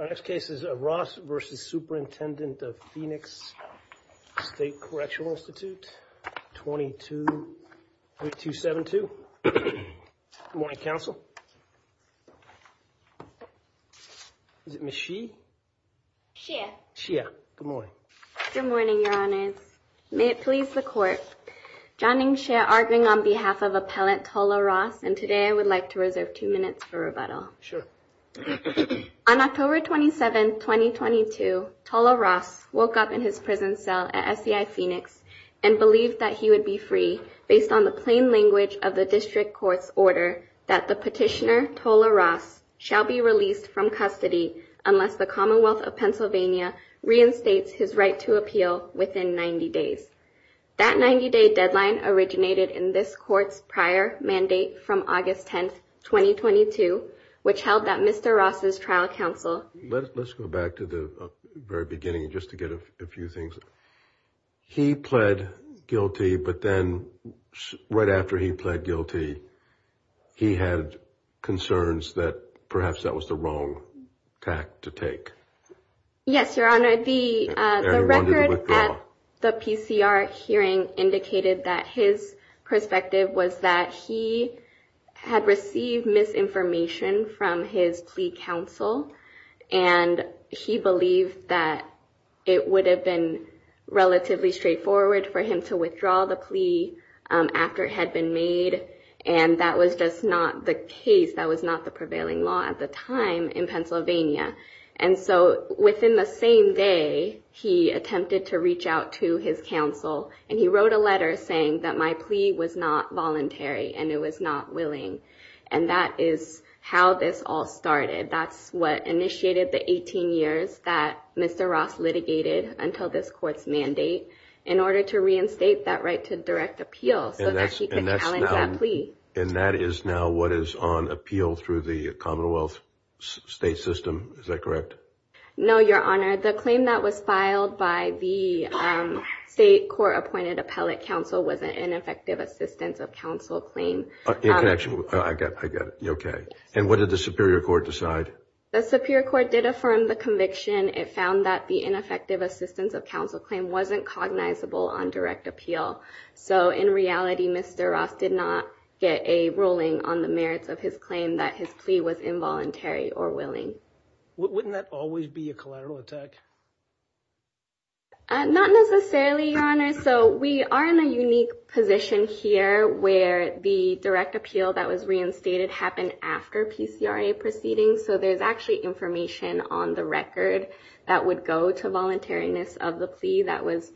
Our next case is Ross V. Superintendent of Phoenix State Correctional Institute, 2272. Good morning, counsel. Is it Ms. Xie? Xie. Xie, good morning. Good morning, Your Honors. May it please the Court. John Ning Xie arguing on behalf of Appellant Tola Ross, and today I would like to reserve two minutes for rebuttal. Sure. On October 27, 2022, Tola Ross woke up in his prison cell at SCI Phoenix and believed that he would be free based on the plain language of the district court's order that the petitioner Tola Ross shall be released from custody unless the Commonwealth of Pennsylvania reinstates his right to appeal within 90 days. That 90-day deadline originated in this court's prior mandate from August 10, 2022, which held that Mr. Ross's trial counsel Let's go back to the very beginning just to get a few things. He pled guilty, but then right after he pled guilty, he had concerns that perhaps that was the wrong tact to take. Yes, Your Honor. The record at the PCR hearing indicated that his perspective was that he had received misinformation from his plea counsel, and he believed that it would have been relatively straightforward for him to withdraw the plea after it had been made, and that was just not the case. That was not the same day he attempted to reach out to his counsel, and he wrote a letter saying that my plea was not voluntary and it was not willing, and that is how this all started. That's what initiated the 18 years that Mr. Ross litigated until this court's mandate in order to reinstate that right to direct appeal so that he could challenge that plea. And that is now what is on appeal through the Commonwealth state system. Is that correct? No, Your Honor. The claim that was filed by the state court-appointed appellate counsel was an ineffective assistance of counsel claim. I got it. Okay. And what did the Superior Court decide? The Superior Court did affirm the conviction. It found that the ineffective assistance of counsel claim wasn't cognizable on direct appeal. So in reality, Mr. Ross did not get a ruling on the merits of his claim that his plea was involuntary or willing. Wouldn't that always be a collateral attack? Not necessarily, Your Honor. So we are in a unique position here where the direct appeal that was reinstated happened after PCRA proceedings, so there's actually information on the record that would go to indicate the involuntariness of the plea that was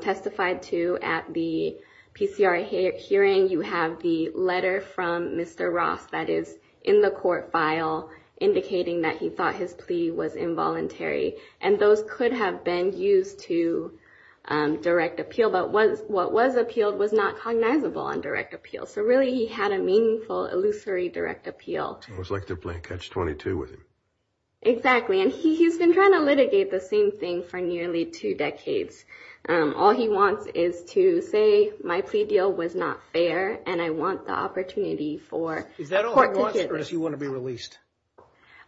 testified to at the PCRA hearing. You have the letter from Mr. Ross that is in the court file indicating that he thought his plea was involuntary. And those could have been used to direct appeal, but what was appealed was not cognizable on direct appeal. So really, he had a meaningful, illusory direct appeal. So it was like they're playing catch-22 with him. Exactly, and he's been trying to litigate the same thing for nearly two decades. All he wants is to say, my plea deal was not fair, and I want the opportunity for court to hear it. Is that all he wants, or does he want to be released?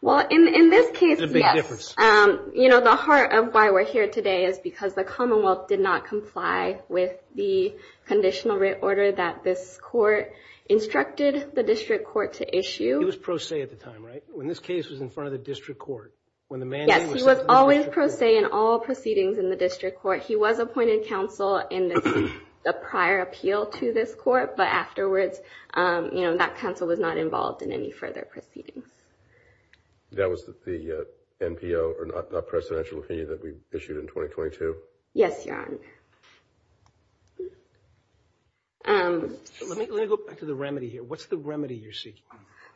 Well, in this case, yes. That's a big difference. You know, the heart of why we're here today is because the Commonwealth did not comply with the conditional writ order that this court instructed the district court to issue. He was pro se at the time, right, when this case was in front of the district court? Yes, he was always pro se in all proceedings in the district court. He was appointed counsel in the prior appeal to this court, but afterwards, you know, that counsel was not involved in any further proceedings. That was the NPO, or not presidential opinion, that we issued in 2022? Yes, Your Honor. Let me go back to the remedy here. What's the remedy you're seeking?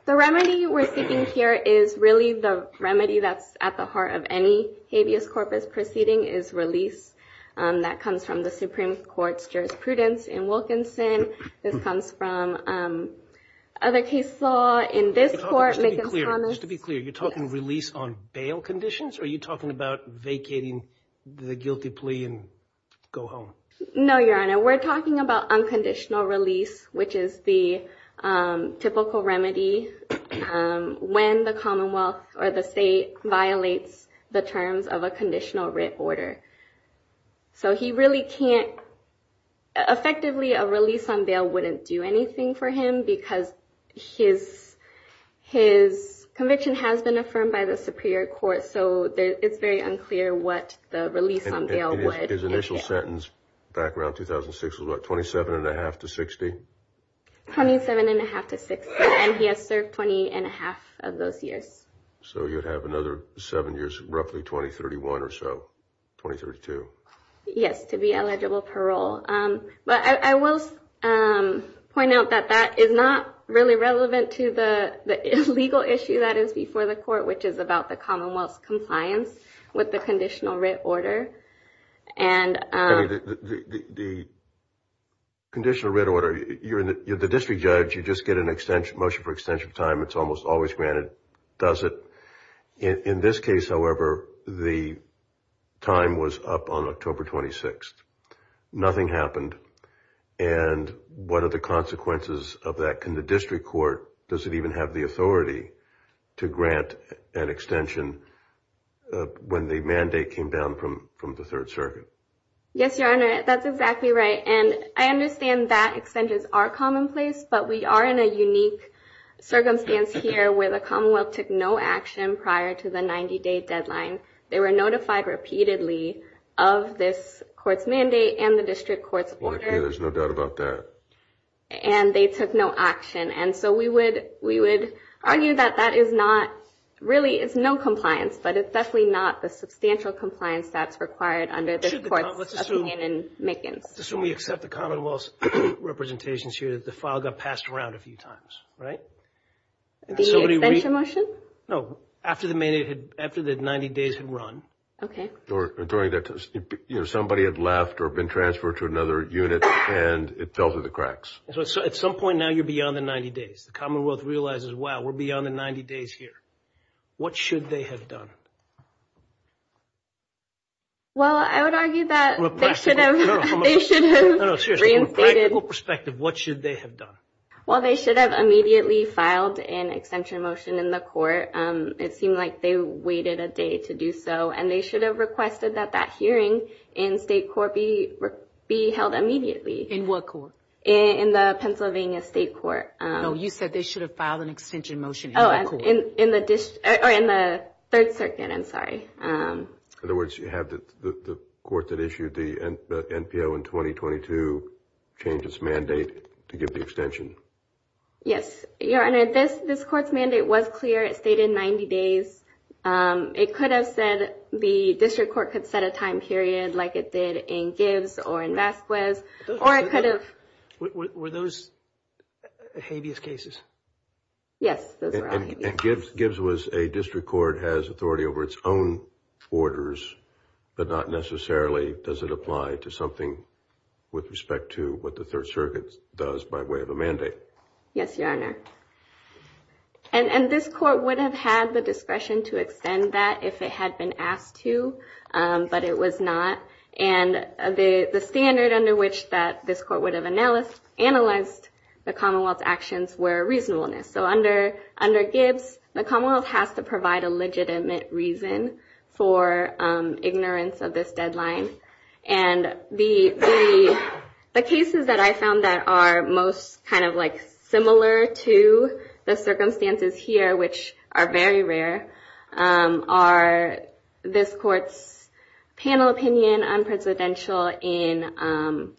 The remedy we're seeking here is really the remedy that's at the heart of any habeas corpus proceeding, is release. That comes from the Supreme Court's jurisprudence in Wilkinson. This comes from other case law in this court. Just to be clear, you're talking release on bail conditions, or are you talking about vacating the guilty plea and go home? No, Your Honor. We're talking about unconditional release, which is the typical remedy when the Commonwealth or the state violates the terms of a conditional writ order. So he really can't, effectively, a release on bail wouldn't do anything for him, because his conviction has been affirmed by the Superior Court, so it's very unclear what the release on bail would. His initial sentence back around 2006 was what, 27 1⁄2 to 60? 27 1⁄2 to 60, and he has served 20 1⁄2 of those years. So you'd have another seven years, roughly 2031 or so, 2032. Yes, to be eligible parole. But I will point out that that is not really relevant to the legal issue that is before the court, which is about the Commonwealth's compliance with the conditional writ order. The conditional writ order, you're the district judge. You just get a motion for extension of time. It's almost always granted, does it? In this case, however, the time was up on October 26th. Nothing happened, and what are the consequences of that? In the district court, does it even have the authority to grant an extension when the mandate came down from the Third Circuit? Yes, Your Honor, that's exactly right, and I understand that extensions are commonplace, but we are in a unique circumstance here where the Commonwealth took no action prior to the 90-day deadline. They were notified repeatedly of this court's mandate and the district court's order. Well, I hear there's no doubt about that. And they took no action, and so we would argue that that is not really no compliance, but it's definitely not the substantial compliance that's required under this court's opinion and makings. Let's assume we accept the Commonwealth's representations here that the file got passed around a few times, right? The extension motion? No, after the 90 days had run. Okay. Somebody had left or been transferred to another unit, and it fell through the cracks. So at some point now you're beyond the 90 days. The Commonwealth realizes, wow, we're beyond the 90 days here. What should they have done? Well, I would argue that they should have reinstated. From a practical perspective, what should they have done? Well, they should have immediately filed an extension motion in the court. It seemed like they waited a day to do so, and they should have requested that that hearing in state court be held immediately. In what court? In the Pennsylvania State Court. No, you said they should have filed an extension motion in the court. Oh, in the Third Circuit, I'm sorry. In other words, you have the court that issued the NPO in 2022 change its mandate to give the extension? Yes, Your Honor. And this court's mandate was clear. It stated 90 days. It could have said the district court could set a time period like it did in Gibbs or in Vasquez, or it could have. Were those habeas cases? Yes, those were all habeas. And Gibbs was a district court, has authority over its own orders, but not necessarily does it apply to something with respect to what the Third Circuit does by way of a mandate. Yes, Your Honor. And this court would have had the discretion to extend that if it had been asked to, but it was not. And the standard under which this court would have analyzed the Commonwealth's actions were reasonableness. So under Gibbs, the Commonwealth has to provide a legitimate reason for ignorance of this deadline. And the cases that I found that are most kind of like similar to the circumstances here, which are very rare, are this court's panel opinion on presidential in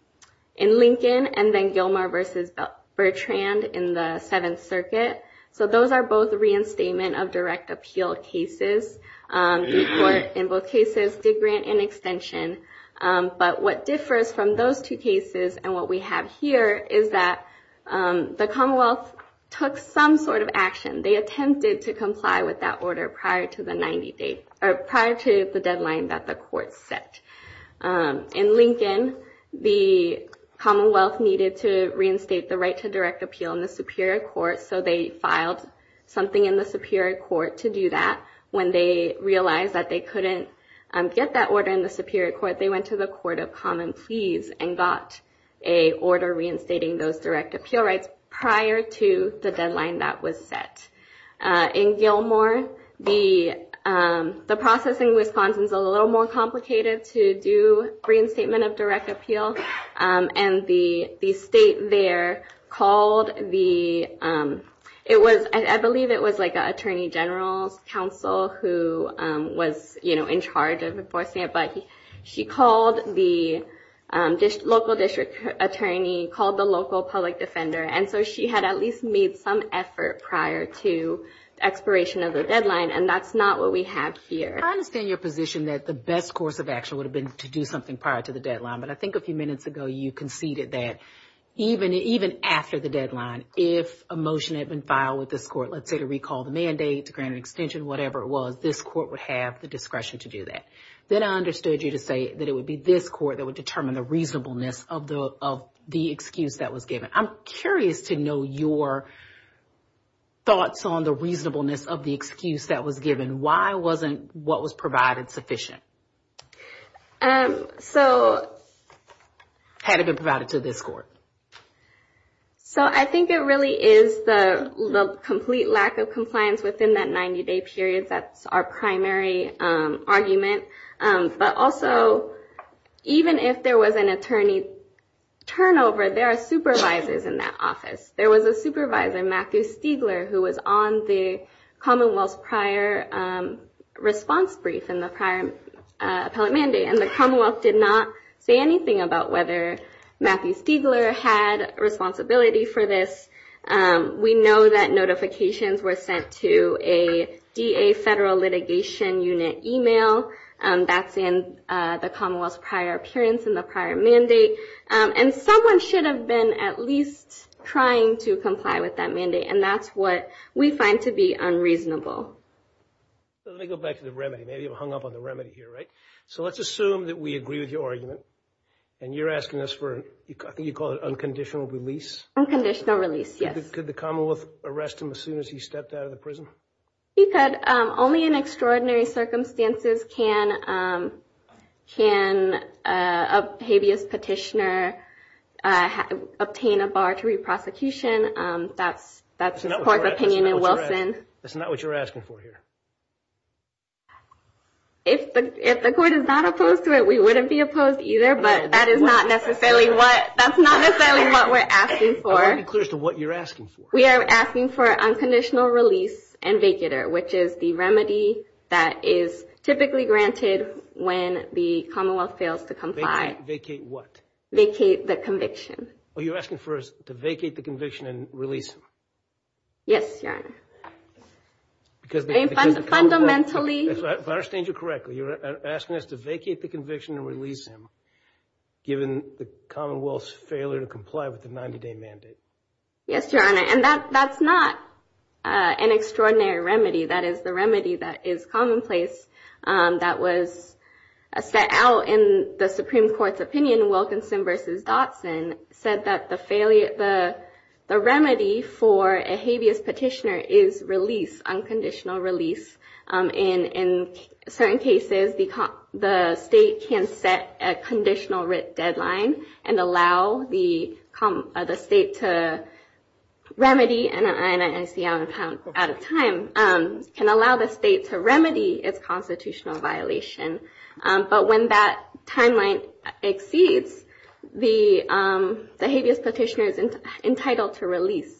Lincoln and then Gilmar versus Bertrand in the Seventh Circuit. So those are both reinstatement of direct appeal cases. The court in both cases did grant an extension. But what differs from those two cases and what we have here is that the Commonwealth took some sort of action. They attempted to comply with that order prior to the deadline that the court set. In Lincoln, the Commonwealth needed to reinstate the right to direct appeal in the Superior Court, so they filed something in the Superior Court to do that. When they realized that they couldn't get that order in the Superior Court, they went to the Court of Common Pleas and got a order reinstating those direct appeal rights prior to the deadline that was set. In Gilmar, the process in Wisconsin is a little more complicated to do reinstatement of direct appeal. And the state there called the – I believe it was like an attorney general's council who was, you know, in charge of enforcing it. But she called the local district attorney, called the local public defender. And so she had at least made some effort prior to expiration of the deadline, and that's not what we have here. I understand your position that the best course of action would have been to do something prior to the deadline. But I think a few minutes ago you conceded that even after the deadline, if a motion had been filed with this court, let's say to recall the mandate, to grant an extension, whatever it was, this court would have the discretion to do that. Then I understood you to say that it would be this court that would determine the reasonableness of the excuse that was given. I'm curious to know your thoughts on the reasonableness of the excuse that was given. Why wasn't what was provided sufficient? Had it been provided to this court? So I think it really is the complete lack of compliance within that 90-day period. That's our primary argument. But also, even if there was an attorney turnover, there are supervisors in that office. There was a supervisor, Matthew Stiegler, who was on the Commonwealth's prior response brief in the prior appellate mandate. And the Commonwealth did not say anything about whether Matthew Stiegler had responsibility for this. We know that notifications were sent to a DA Federal Litigation Unit email. That's in the Commonwealth's prior appearance in the prior mandate. And someone should have been at least trying to comply with that mandate. And that's what we find to be unreasonable. So let me go back to the remedy. Maybe you've hung up on the remedy here, right? So let's assume that we agree with your argument. And you're asking us for, I think you call it, unconditional release? Unconditional release, yes. Could the Commonwealth arrest him as soon as he stepped out of the prison? He could. Only in extraordinary circumstances can a habeas petitioner obtain a bar to re-prosecution. That's the court's opinion in Wilson. That's not what you're asking for here. If the court is not opposed to it, we wouldn't be opposed either. But that's not necessarily what we're asking for. I want to be clear as to what you're asking for. We are asking for unconditional release and vacater, which is the remedy that is typically granted when the Commonwealth fails to comply. Vacate what? Vacate the conviction. Oh, you're asking for us to vacate the conviction and release him? Yes, Your Honor. Because the Commonwealth... Fundamentally... If I understand you correctly, you're asking us to vacate the conviction and release him given the Commonwealth's failure to comply with the 90-day mandate. Yes, Your Honor. And that's not an extraordinary remedy. That is the remedy that is commonplace, that was set out in the Supreme Court's opinion, Wilkinson v. Dotson, said that the remedy for a habeas petitioner is release, unconditional release. In certain cases, the state can set a conditional deadline and allow the state to remedy, and I see I'm out of time, can allow the state to remedy its constitutional violation. But when that timeline exceeds, the habeas petitioner is entitled to release.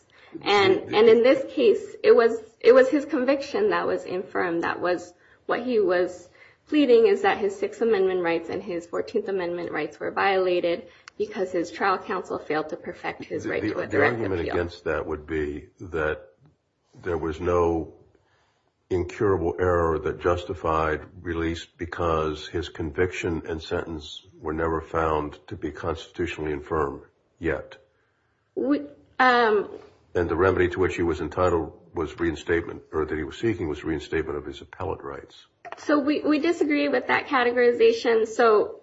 And in this case, it was his conviction that was infirm, that was what he was pleading, is that his Sixth Amendment rights and his Fourteenth Amendment rights were violated because his trial counsel failed to perfect his right to a direct appeal. The argument against that would be that there was no incurable error that justified release because his conviction and sentence were never found to be constitutionally infirm yet. And the remedy to which he was entitled was reinstatement, or that he was seeking was reinstatement of his appellate rights. So we disagree with that categorization. So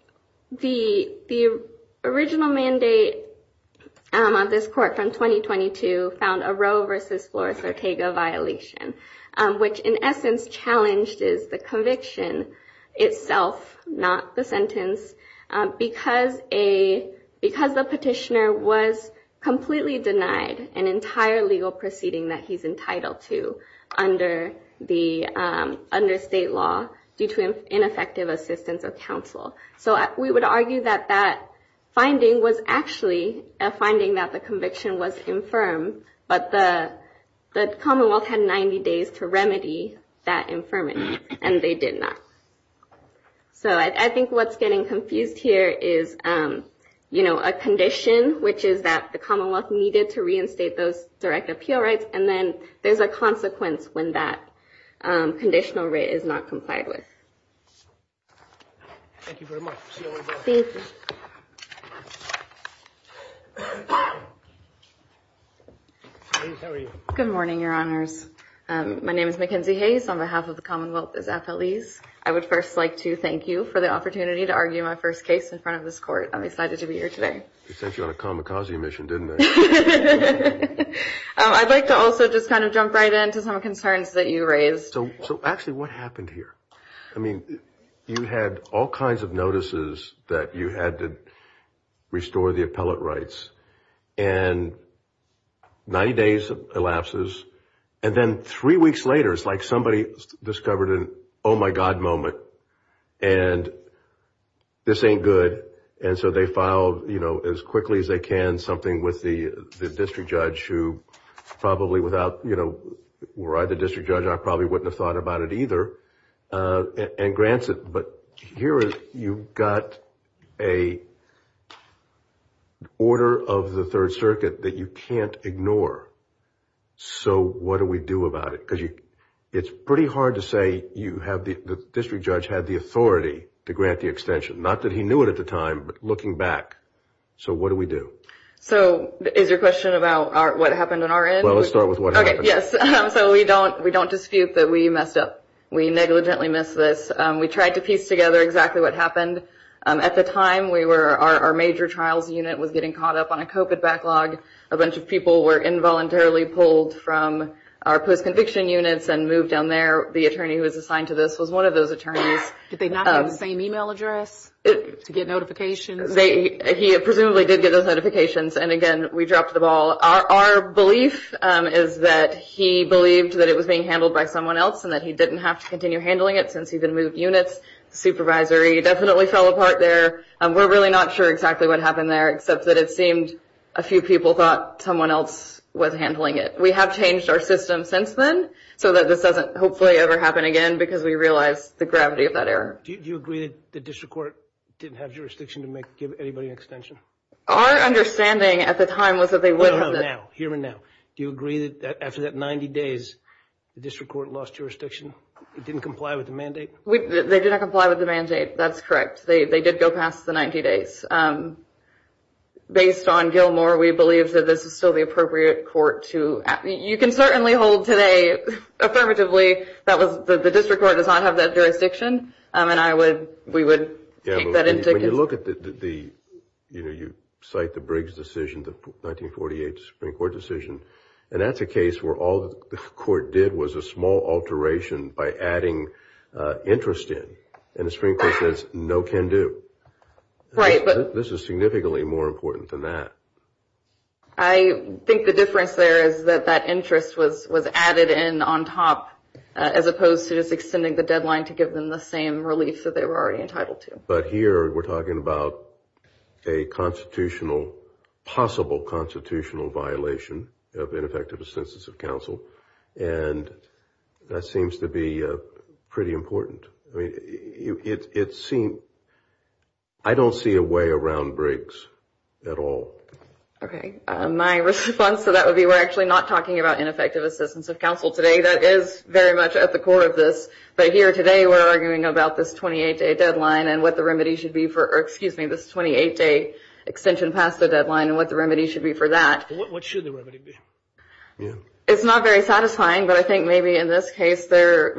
the original mandate on this court from 2022 found a Roe v. Flores-Ortega violation, which in essence challenged the conviction itself, not the sentence, because the petitioner was completely denied an entire legal proceeding that he's entitled to under state law due to ineffective assistance of counsel. So we would argue that that finding was actually a finding that the conviction was infirm, but the Commonwealth had 90 days to remedy that infirmity, and they did not. So I think what's getting confused here is, you know, a condition, which is that the Commonwealth needed to reinstate those direct appeal rights, and then there's a consequence when that conditional writ is not complied with. Good morning, Your Honors. My name is Mackenzie Hayes. On behalf of the Commonwealth as appellees, I would first like to thank you for the opportunity to argue my first case in front of this court. I'm excited to be here today. They sent you on a kamikaze mission, didn't they? I'd like to also just kind of jump right in to some concerns that you raised. So actually, what happened here? I mean, you had all kinds of notices that you had to restore the appellate rights, and 90 days elapses, and then three weeks later, it's like somebody discovered an oh-my-God moment, and this ain't good. And so they filed, you know, as quickly as they can, something with the district judge who probably without, you know, were I the district judge, I probably wouldn't have thought about it either, and grants it. But here you've got an order of the Third Circuit that you can't ignore. So what do we do about it? Because it's pretty hard to say you have the district judge had the authority to grant the extension. Not that he knew it at the time, but looking back, so what do we do? So is your question about what happened on our end? Well, let's start with what happened. Okay, yes. So we don't dispute that we messed up. We negligently missed this. We tried to piece together exactly what happened. At the time, our major trials unit was getting caught up on a COVID backlog. A bunch of people were involuntarily pulled from our post-conviction units and moved down there. The attorney who was assigned to this was one of those attorneys. Did they not have the same e-mail address to get notifications? He presumably did get those notifications, and again, we dropped the ball. Our belief is that he believed that it was being handled by someone else and that he didn't have to continue handling it since he'd been moved units. The supervisory definitely fell apart there. We're really not sure exactly what happened there, except that it seemed a few people thought someone else was handling it. We have changed our system since then so that this doesn't hopefully ever happen again because we realize the gravity of that error. Do you agree that the district court didn't have jurisdiction to give anybody an extension? Our understanding at the time was that they would have. No, no, no, now, here and now. Do you agree that after that 90 days, the district court lost jurisdiction? It didn't comply with the mandate? They did not comply with the mandate. That's correct. They did go past the 90 days. Based on Gilmore, we believe that this is still the appropriate court to act. You can certainly hold today affirmatively that the district court does not have that jurisdiction, and we would take that into consideration. When you look at the, you know, you cite the Briggs decision, the 1948 Supreme Court decision, and that's a case where all the court did was a small alteration by adding interest in, and the Supreme Court says no can do. This is significantly more important than that. I think the difference there is that that interest was added in on top as opposed to just extending the deadline to give them the same relief that they were already entitled to. But here we're talking about a constitutional, possible constitutional violation of ineffective assistance of counsel, and that seems to be pretty important. I mean, it seems, I don't see a way around Briggs at all. Okay. My response to that would be we're actually not talking about ineffective assistance of counsel today. That is very much at the core of this, but here today we're arguing about this 28-day deadline and what the remedy should be for, excuse me, this 28-day extension past the deadline and what the remedy should be for that. What should the remedy be? It's not very satisfying, but I think maybe in this case there,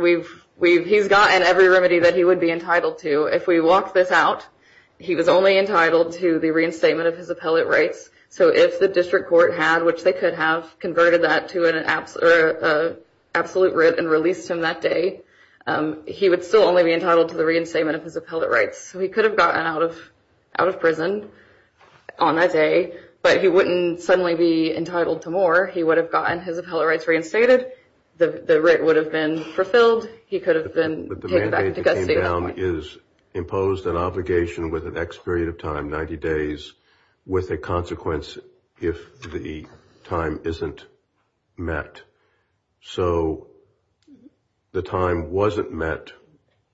he's gotten every remedy that he would be entitled to. If we walk this out, he was only entitled to the reinstatement of his appellate rights. So if the district court had, which they could have, converted that to an absolute writ and released him that day, he would still only be entitled to the reinstatement of his appellate rights. So he could have gotten out of prison on that day, but he wouldn't suddenly be entitled to more. He would have gotten his appellate rights reinstated. The writ would have been fulfilled. He could have been taken back to custody. But the mandate that came down is imposed an obligation with an X period of time, 90 days, with a consequence if the time isn't met. So if the time wasn't met,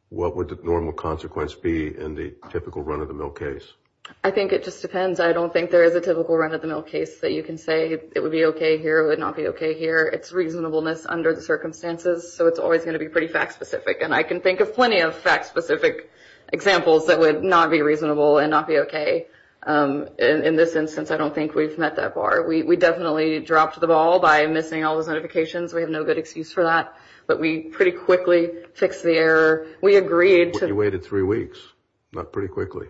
what would the normal consequence be in the typical run-of-the-mill case? I think it just depends. I don't think there is a typical run-of-the-mill case that you can say, it would be okay here, it would not be okay here. It's reasonableness under the circumstances, so it's always going to be pretty fact-specific. And I can think of plenty of fact-specific examples that would not be reasonable and not be okay. In this instance, I don't think we've met that bar. We definitely dropped the ball by missing all those notifications. We have no good excuse for that. But we pretty quickly fixed the error. We agreed. But you waited three weeks, not pretty quickly.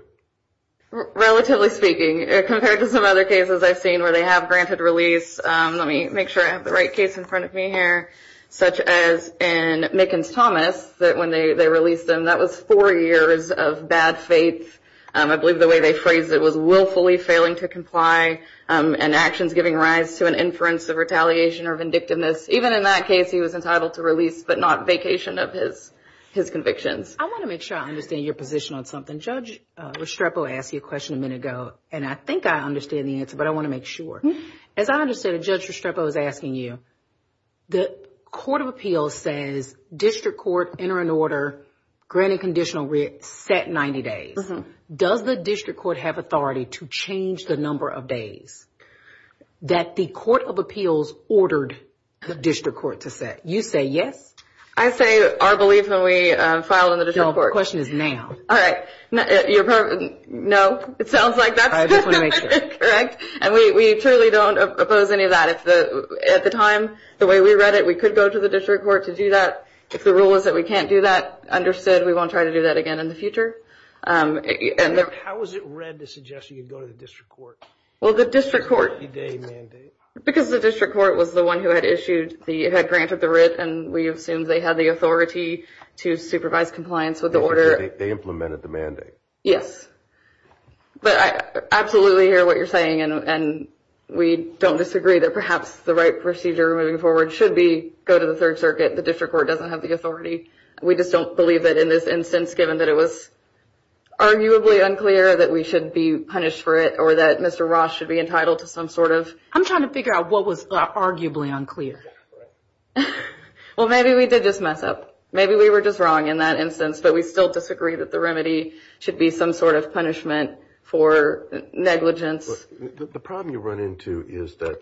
Relatively speaking, compared to some other cases I've seen where they have granted release, let me make sure I have the right case in front of me here, such as in Mickens-Thomas, that when they released him, that was four years of bad faith. I believe the way they phrased it was willfully failing to comply and actions giving rise to an inference of retaliation or vindictiveness. Even in that case, he was entitled to release but not vacation of his convictions. I want to make sure I understand your position on something. Judge Restrepo asked you a question a minute ago, and I think I understand the answer, but I want to make sure. As I understand it, Judge Restrepo is asking you, the Court of Appeals says district court, enter into order, granted conditional writ, set 90 days. Does the district court have authority to change the number of days that the Court of Appeals ordered the district court to set? You say yes. I say our belief when we filed in the district court. No, the question is now. All right. No, it sounds like that's correct. And we truly don't oppose any of that. At the time, the way we read it, we could go to the district court to do that. If the rule is that we can't do that, understood. We won't try to do that again in the future. How was it read to suggest you could go to the district court? Well, the district court. 90-day mandate. Because the district court was the one who had issued the grant of the writ, and we assumed they had the authority to supervise compliance with the order. They implemented the mandate. Yes. But I absolutely hear what you're saying, and we don't disagree that perhaps the right procedure moving forward should be go to the Third Circuit. The district court doesn't have the authority. We just don't believe that in this instance, given that it was arguably unclear that we should be punished for it or that Mr. Ross should be entitled to some sort of. I'm trying to figure out what was arguably unclear. Well, maybe we did just mess up. Maybe we were just wrong in that instance, but we still disagree that the remedy should be some sort of punishment for negligence. The problem you run into is that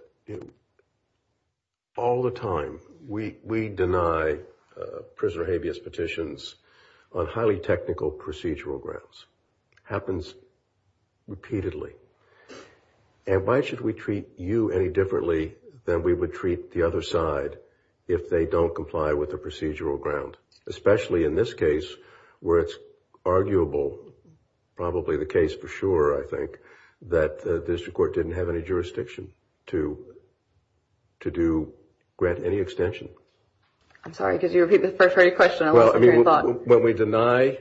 all the time we deny prisoner habeas petitions on highly technical procedural grounds. It happens repeatedly. And why should we treat you any differently than we would treat the other side if they don't comply with the procedural ground, especially in this case where it's arguable, probably the case for sure I think, that the district court didn't have any jurisdiction to grant any extension? I'm sorry. Could you repeat the first part of your question? I lost my train of thought. When we deny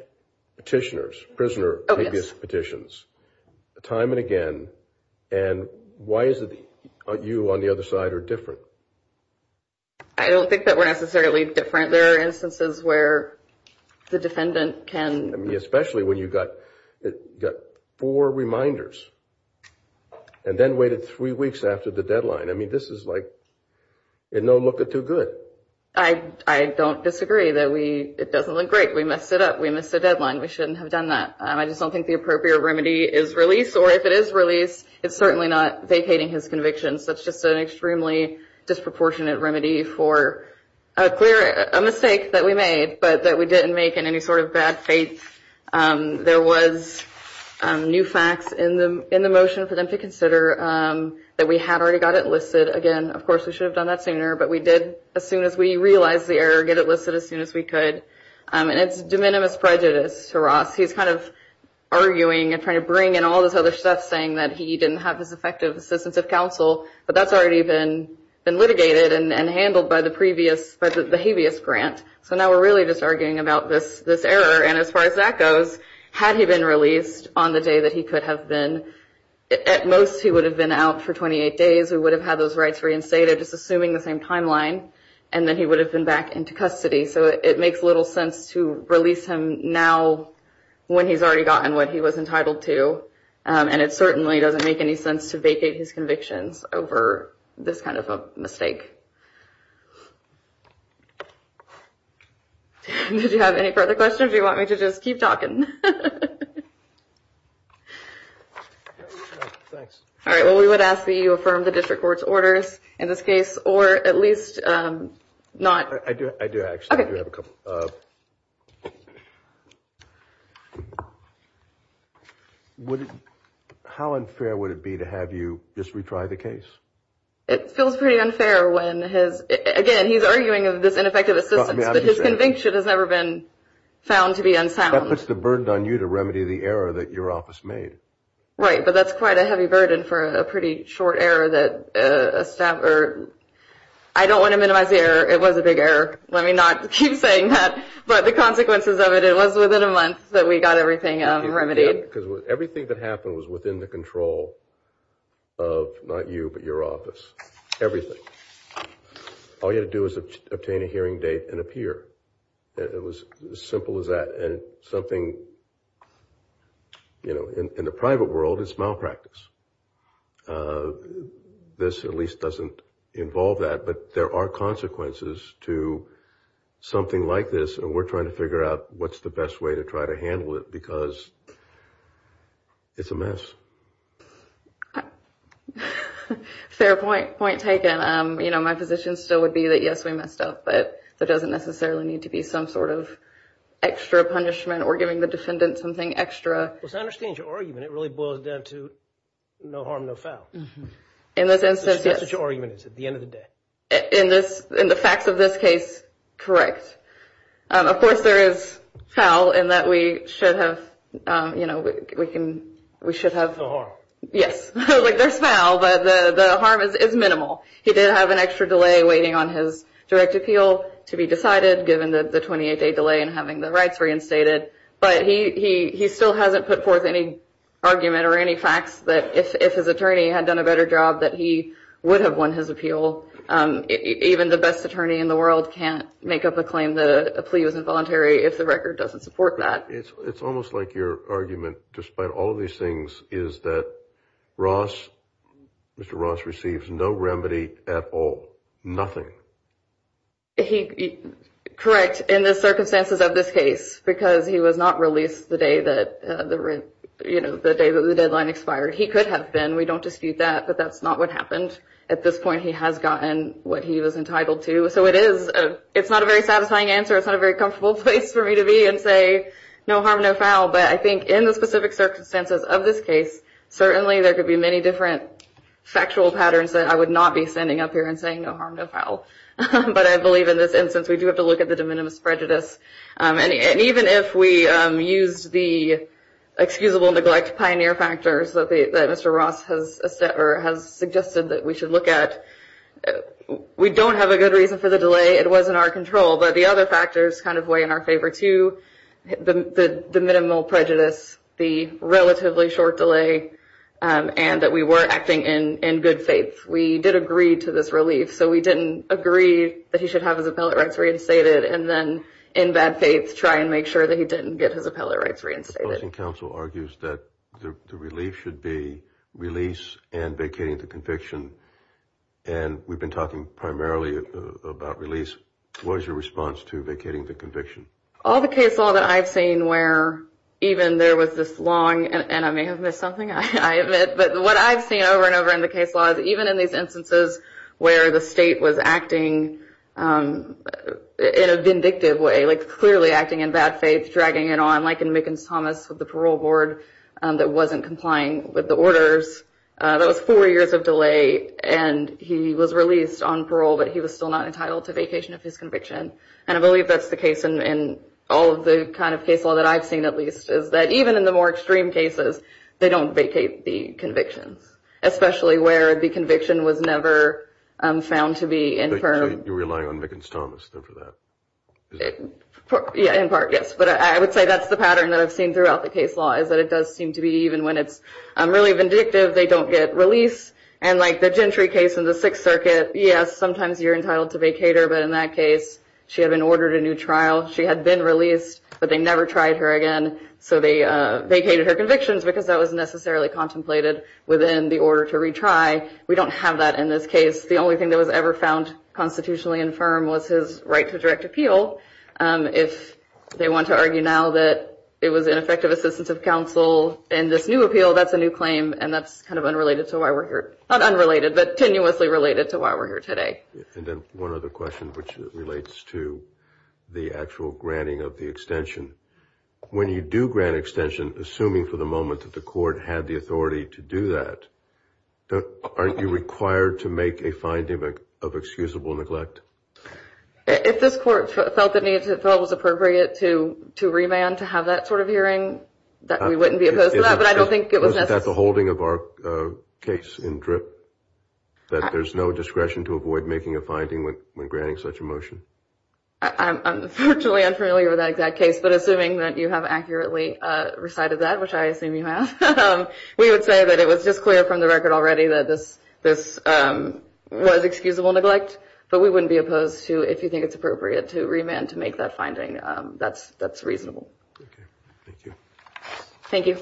petitioners, prisoner habeas petitions, time and again, and why is it you on the other side are different? I don't think that we're necessarily different. There are instances where the defendant can. I mean, especially when you've got four reminders and then waited three weeks after the deadline. I mean, this is like in no look of too good. I don't disagree that it doesn't look great. We messed it up. We missed the deadline. We shouldn't have done that. I just don't think the appropriate remedy is release, or if it is release, it's certainly not vacating his conviction. That's just an extremely disproportionate remedy for a mistake that we made, but that we didn't make in any sort of bad faith. There was new facts in the motion for them to consider that we had already got it listed. Again, of course, we should have done that sooner, but we did as soon as we realized the error, get it listed as soon as we could. And it's de minimis prejudice to Ross. He's kind of arguing and trying to bring in all this other stuff, saying that he didn't have his effective assistance of counsel, but that's already been litigated and handled by the habeas grant. So now we're really just arguing about this error, and as far as that goes, had he been released on the day that he could have been, at most, he would have been out for 28 days. He would have had those rights reinstated, just assuming the same timeline, and then he would have been back into custody. So it makes little sense to release him now when he's already gotten what he was entitled to, and it certainly doesn't make any sense to vacate his convictions over this kind of a mistake. Did you have any further questions, or do you want me to just keep talking? All right, well, we would ask that you affirm the district court's orders in this case, or at least not. I do, actually. I do have a couple. How unfair would it be to have you just retry the case? It feels pretty unfair when his – again, he's arguing of this ineffective assistance, but his conviction has never been found to be unsound. That puts the burden on you to remedy the error that your office made. Right, but that's quite a heavy burden for a pretty short error that a staffer – I don't want to minimize the error. It was a big error. Let me not keep saying that. But the consequences of it, it was within a month that we got everything remedied. Because everything that happened was within the control of not you, but your office. Everything. All you had to do was obtain a hearing date and appear. It was as simple as that. And something, you know, in the private world, it's malpractice. This, at least, doesn't involve that. But there are consequences to something like this, and we're trying to figure out what's the best way to try to handle it because it's a mess. Fair point, point taken. You know, my position still would be that, yes, we messed up, but there doesn't necessarily need to be some sort of extra punishment or giving the defendant something extra. Well, as I understand your argument, it really boils down to no harm, no foul. In this instance, yes. That's what your argument is at the end of the day. In the facts of this case, correct. Of course, there is foul in that we should have, you know, we should have. No harm. Yes. Like, there's foul, but the harm is minimal. He did have an extra delay waiting on his direct appeal to be decided, given the 28-day delay in having the rights reinstated. But he still hasn't put forth any argument or any facts that if his attorney had done a better job, that he would have won his appeal. Even the best attorney in the world can't make up a claim that a plea was involuntary if the record doesn't support that. It's almost like your argument, despite all of these things, is that Ross, Mr. Ross, receives no remedy at all, nothing. He, correct, in the circumstances of this case, because he was not released the day that the deadline expired. He could have been. We don't dispute that, but that's not what happened. At this point he has gotten what he was entitled to. So it is, it's not a very satisfying answer. It's not a very comfortable place for me to be and say no harm, no foul. But I think in the specific circumstances of this case, certainly there could be many different factual patterns that I would not be standing up here and saying no harm, no foul. But I believe in this instance we do have to look at the de minimis prejudice. And even if we used the excusable neglect pioneer factors that Mr. Ross has suggested that we should look at, we don't have a good reason for the delay. It wasn't our control. But the other factors kind of weigh in our favor too, the minimal prejudice, the relatively short delay, and that we were acting in good faith. We did agree to this relief. So we didn't agree that he should have his appellate rights reinstated and then in bad faith try and make sure that he didn't get his appellate rights reinstated. The opposing counsel argues that the relief should be release and vacating the conviction. And we've been talking primarily about release. What is your response to vacating the conviction? All the case law that I've seen where even there was this long, and I may have missed something, I admit, but what I've seen over and over in the case law is even in these instances where the state was acting in a vindictive way, like clearly acting in bad faith, dragging it on, like in Mickens-Thomas with the parole board that wasn't complying with the orders, that was four years of delay and he was released on parole, but he was still not entitled to vacation of his conviction. And I believe that's the case in all of the kind of case law that I've seen at least, is that even in the more extreme cases, they don't vacate the convictions, especially where the conviction was never found to be. So you're relying on Mickens-Thomas then for that? Yeah, in part, yes. But I would say that's the pattern that I've seen throughout the case law, is that it does seem to be even when it's really vindictive they don't get release. And like the Gentry case in the Sixth Circuit, yes, sometimes you're entitled to vacate her, but in that case she had been ordered a new trial, she had been released, but they never tried her again. So they vacated her convictions because that was necessarily contemplated within the order to retry. We don't have that in this case. The only thing that was ever found constitutionally infirm was his right to direct appeal. If they want to argue now that it was ineffective assistance of counsel in this new appeal, that's a new claim, and that's kind of unrelated to why we're here. Not unrelated, but tenuously related to why we're here today. And then one other question, which relates to the actual granting of the extension. When you do grant extension, assuming for the moment that the court had the authority to do that, aren't you required to make a finding of excusable neglect? If this court felt it was appropriate to remand to have that sort of hearing, we wouldn't be opposed to that, but I don't think it was necessary. Isn't that the holding of our case in DRIP, that there's no discretion to avoid making a finding when granting such a motion? I'm unfortunately unfamiliar with that exact case, but assuming that you have accurately recited that, which I assume you have, we would say that it was just clear from the record already that this was excusable neglect, but we wouldn't be opposed to if you think it's appropriate to remand to make that finding. That's reasonable. Thank you. Thank you.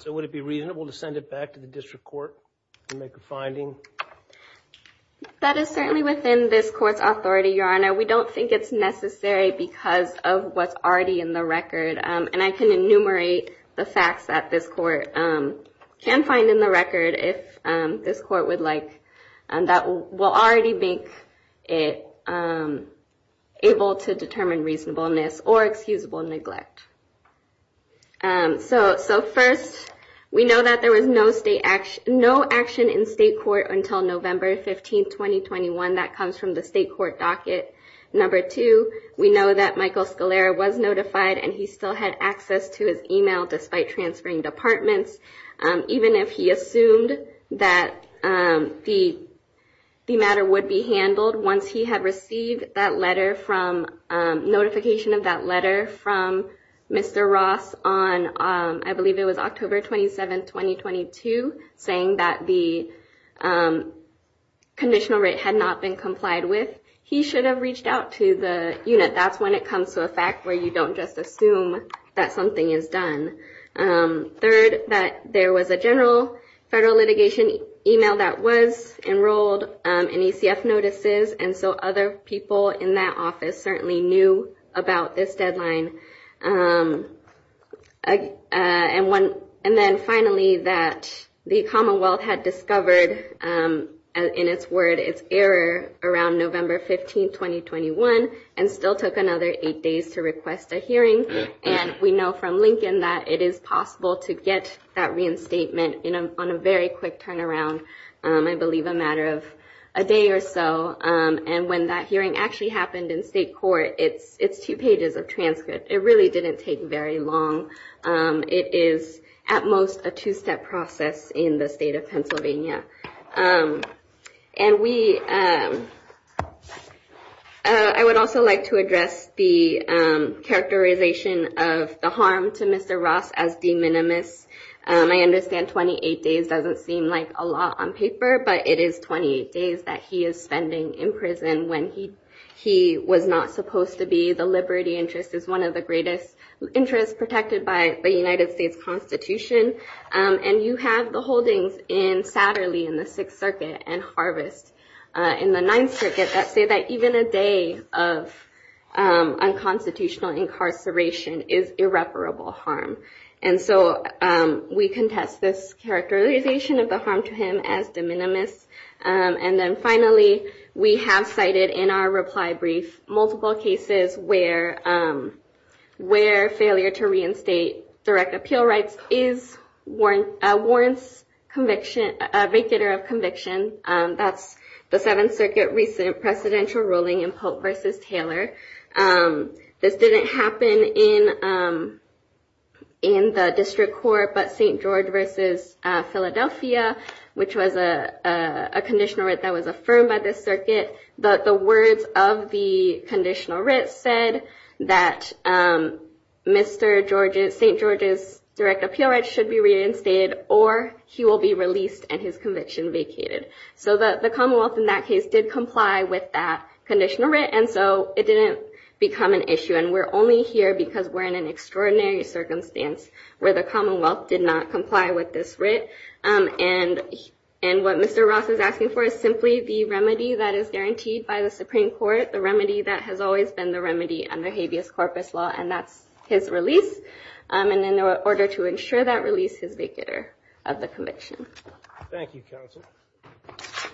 So would it be reasonable to send it back to the district court and make a finding? That is certainly within this court's authority, Your Honor. We don't think it's necessary because of what's already in the record, and I can enumerate the facts that this court can find in the record, if this court would like, that will already make it able to determine reasonableness or excusable neglect. So first, we know that there was no action in state court until November 15, 2021. That comes from the state court docket. Number two, we know that Michael Scalera was notified, and he still had access to his email despite transferring departments. Even if he assumed that the matter would be handled, once he had received notification of that letter from Mr. Ross on, I believe it was October 27, 2022, saying that the conditional rate had not been complied with, he should have reached out to the unit. That's when it comes to a fact where you don't just assume that something is done. Third, that there was a general federal litigation email that was enrolled in ECF notices, and so other people in that office certainly knew about this deadline. And then finally, that the Commonwealth had discovered, in its word, its error around November 15, 2021, and still took another eight days to request a hearing. And we know from Lincoln that it is possible to get that reinstatement on a very quick turnaround, I believe a matter of a day or so. And when that hearing actually happened in state court, it's two pages of transcript. It really didn't take very long. It is, at most, a two-step process in the state of Pennsylvania. And I would also like to address the characterization of the harm to Mr. Ross as de minimis. I understand 28 days doesn't seem like a lot on paper, but it is 28 days that he is spending in prison when he was not supposed to be. The liberty interest is one of the greatest interests protected by the United States Constitution. And you have the holdings in Satterley in the Sixth Circuit and Harvest in the Ninth Circuit that say that even a day of unconstitutional incarceration is irreparable harm. And so we contest this characterization of the harm to him as de minimis. And then finally, we have cited in our reply brief multiple cases where failure to reinstate direct appeal rights is a warrant of conviction, a vacater of conviction. That's the Seventh Circuit recent presidential ruling in Pope v. Taylor. This didn't happen in the district court, but St. George v. Philadelphia, which was a conditional writ that was affirmed by this circuit. The words of the conditional writ said that St. George's direct appeal rights should be reinstated or he will be released and his conviction vacated. So the Commonwealth in that case did comply with that conditional writ, and so it didn't become an issue. And we're only here because we're in an extraordinary circumstance where the Commonwealth did not comply with this writ. And what Mr. Ross is asking for is simply the remedy that is guaranteed by the Supreme Court, the remedy that has always been the remedy under habeas corpus law, and that's his release. And in order to ensure that release, his vacater of the conviction. Thank you, counsel.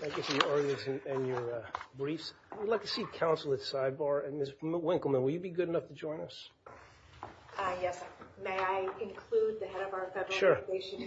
Thank you for your arguments and your briefs. We'd like to see counsel at sidebar. Ms. Winkleman, will you be good enough to join us? Yes. May I include the head of our federal immigration unit? Sure.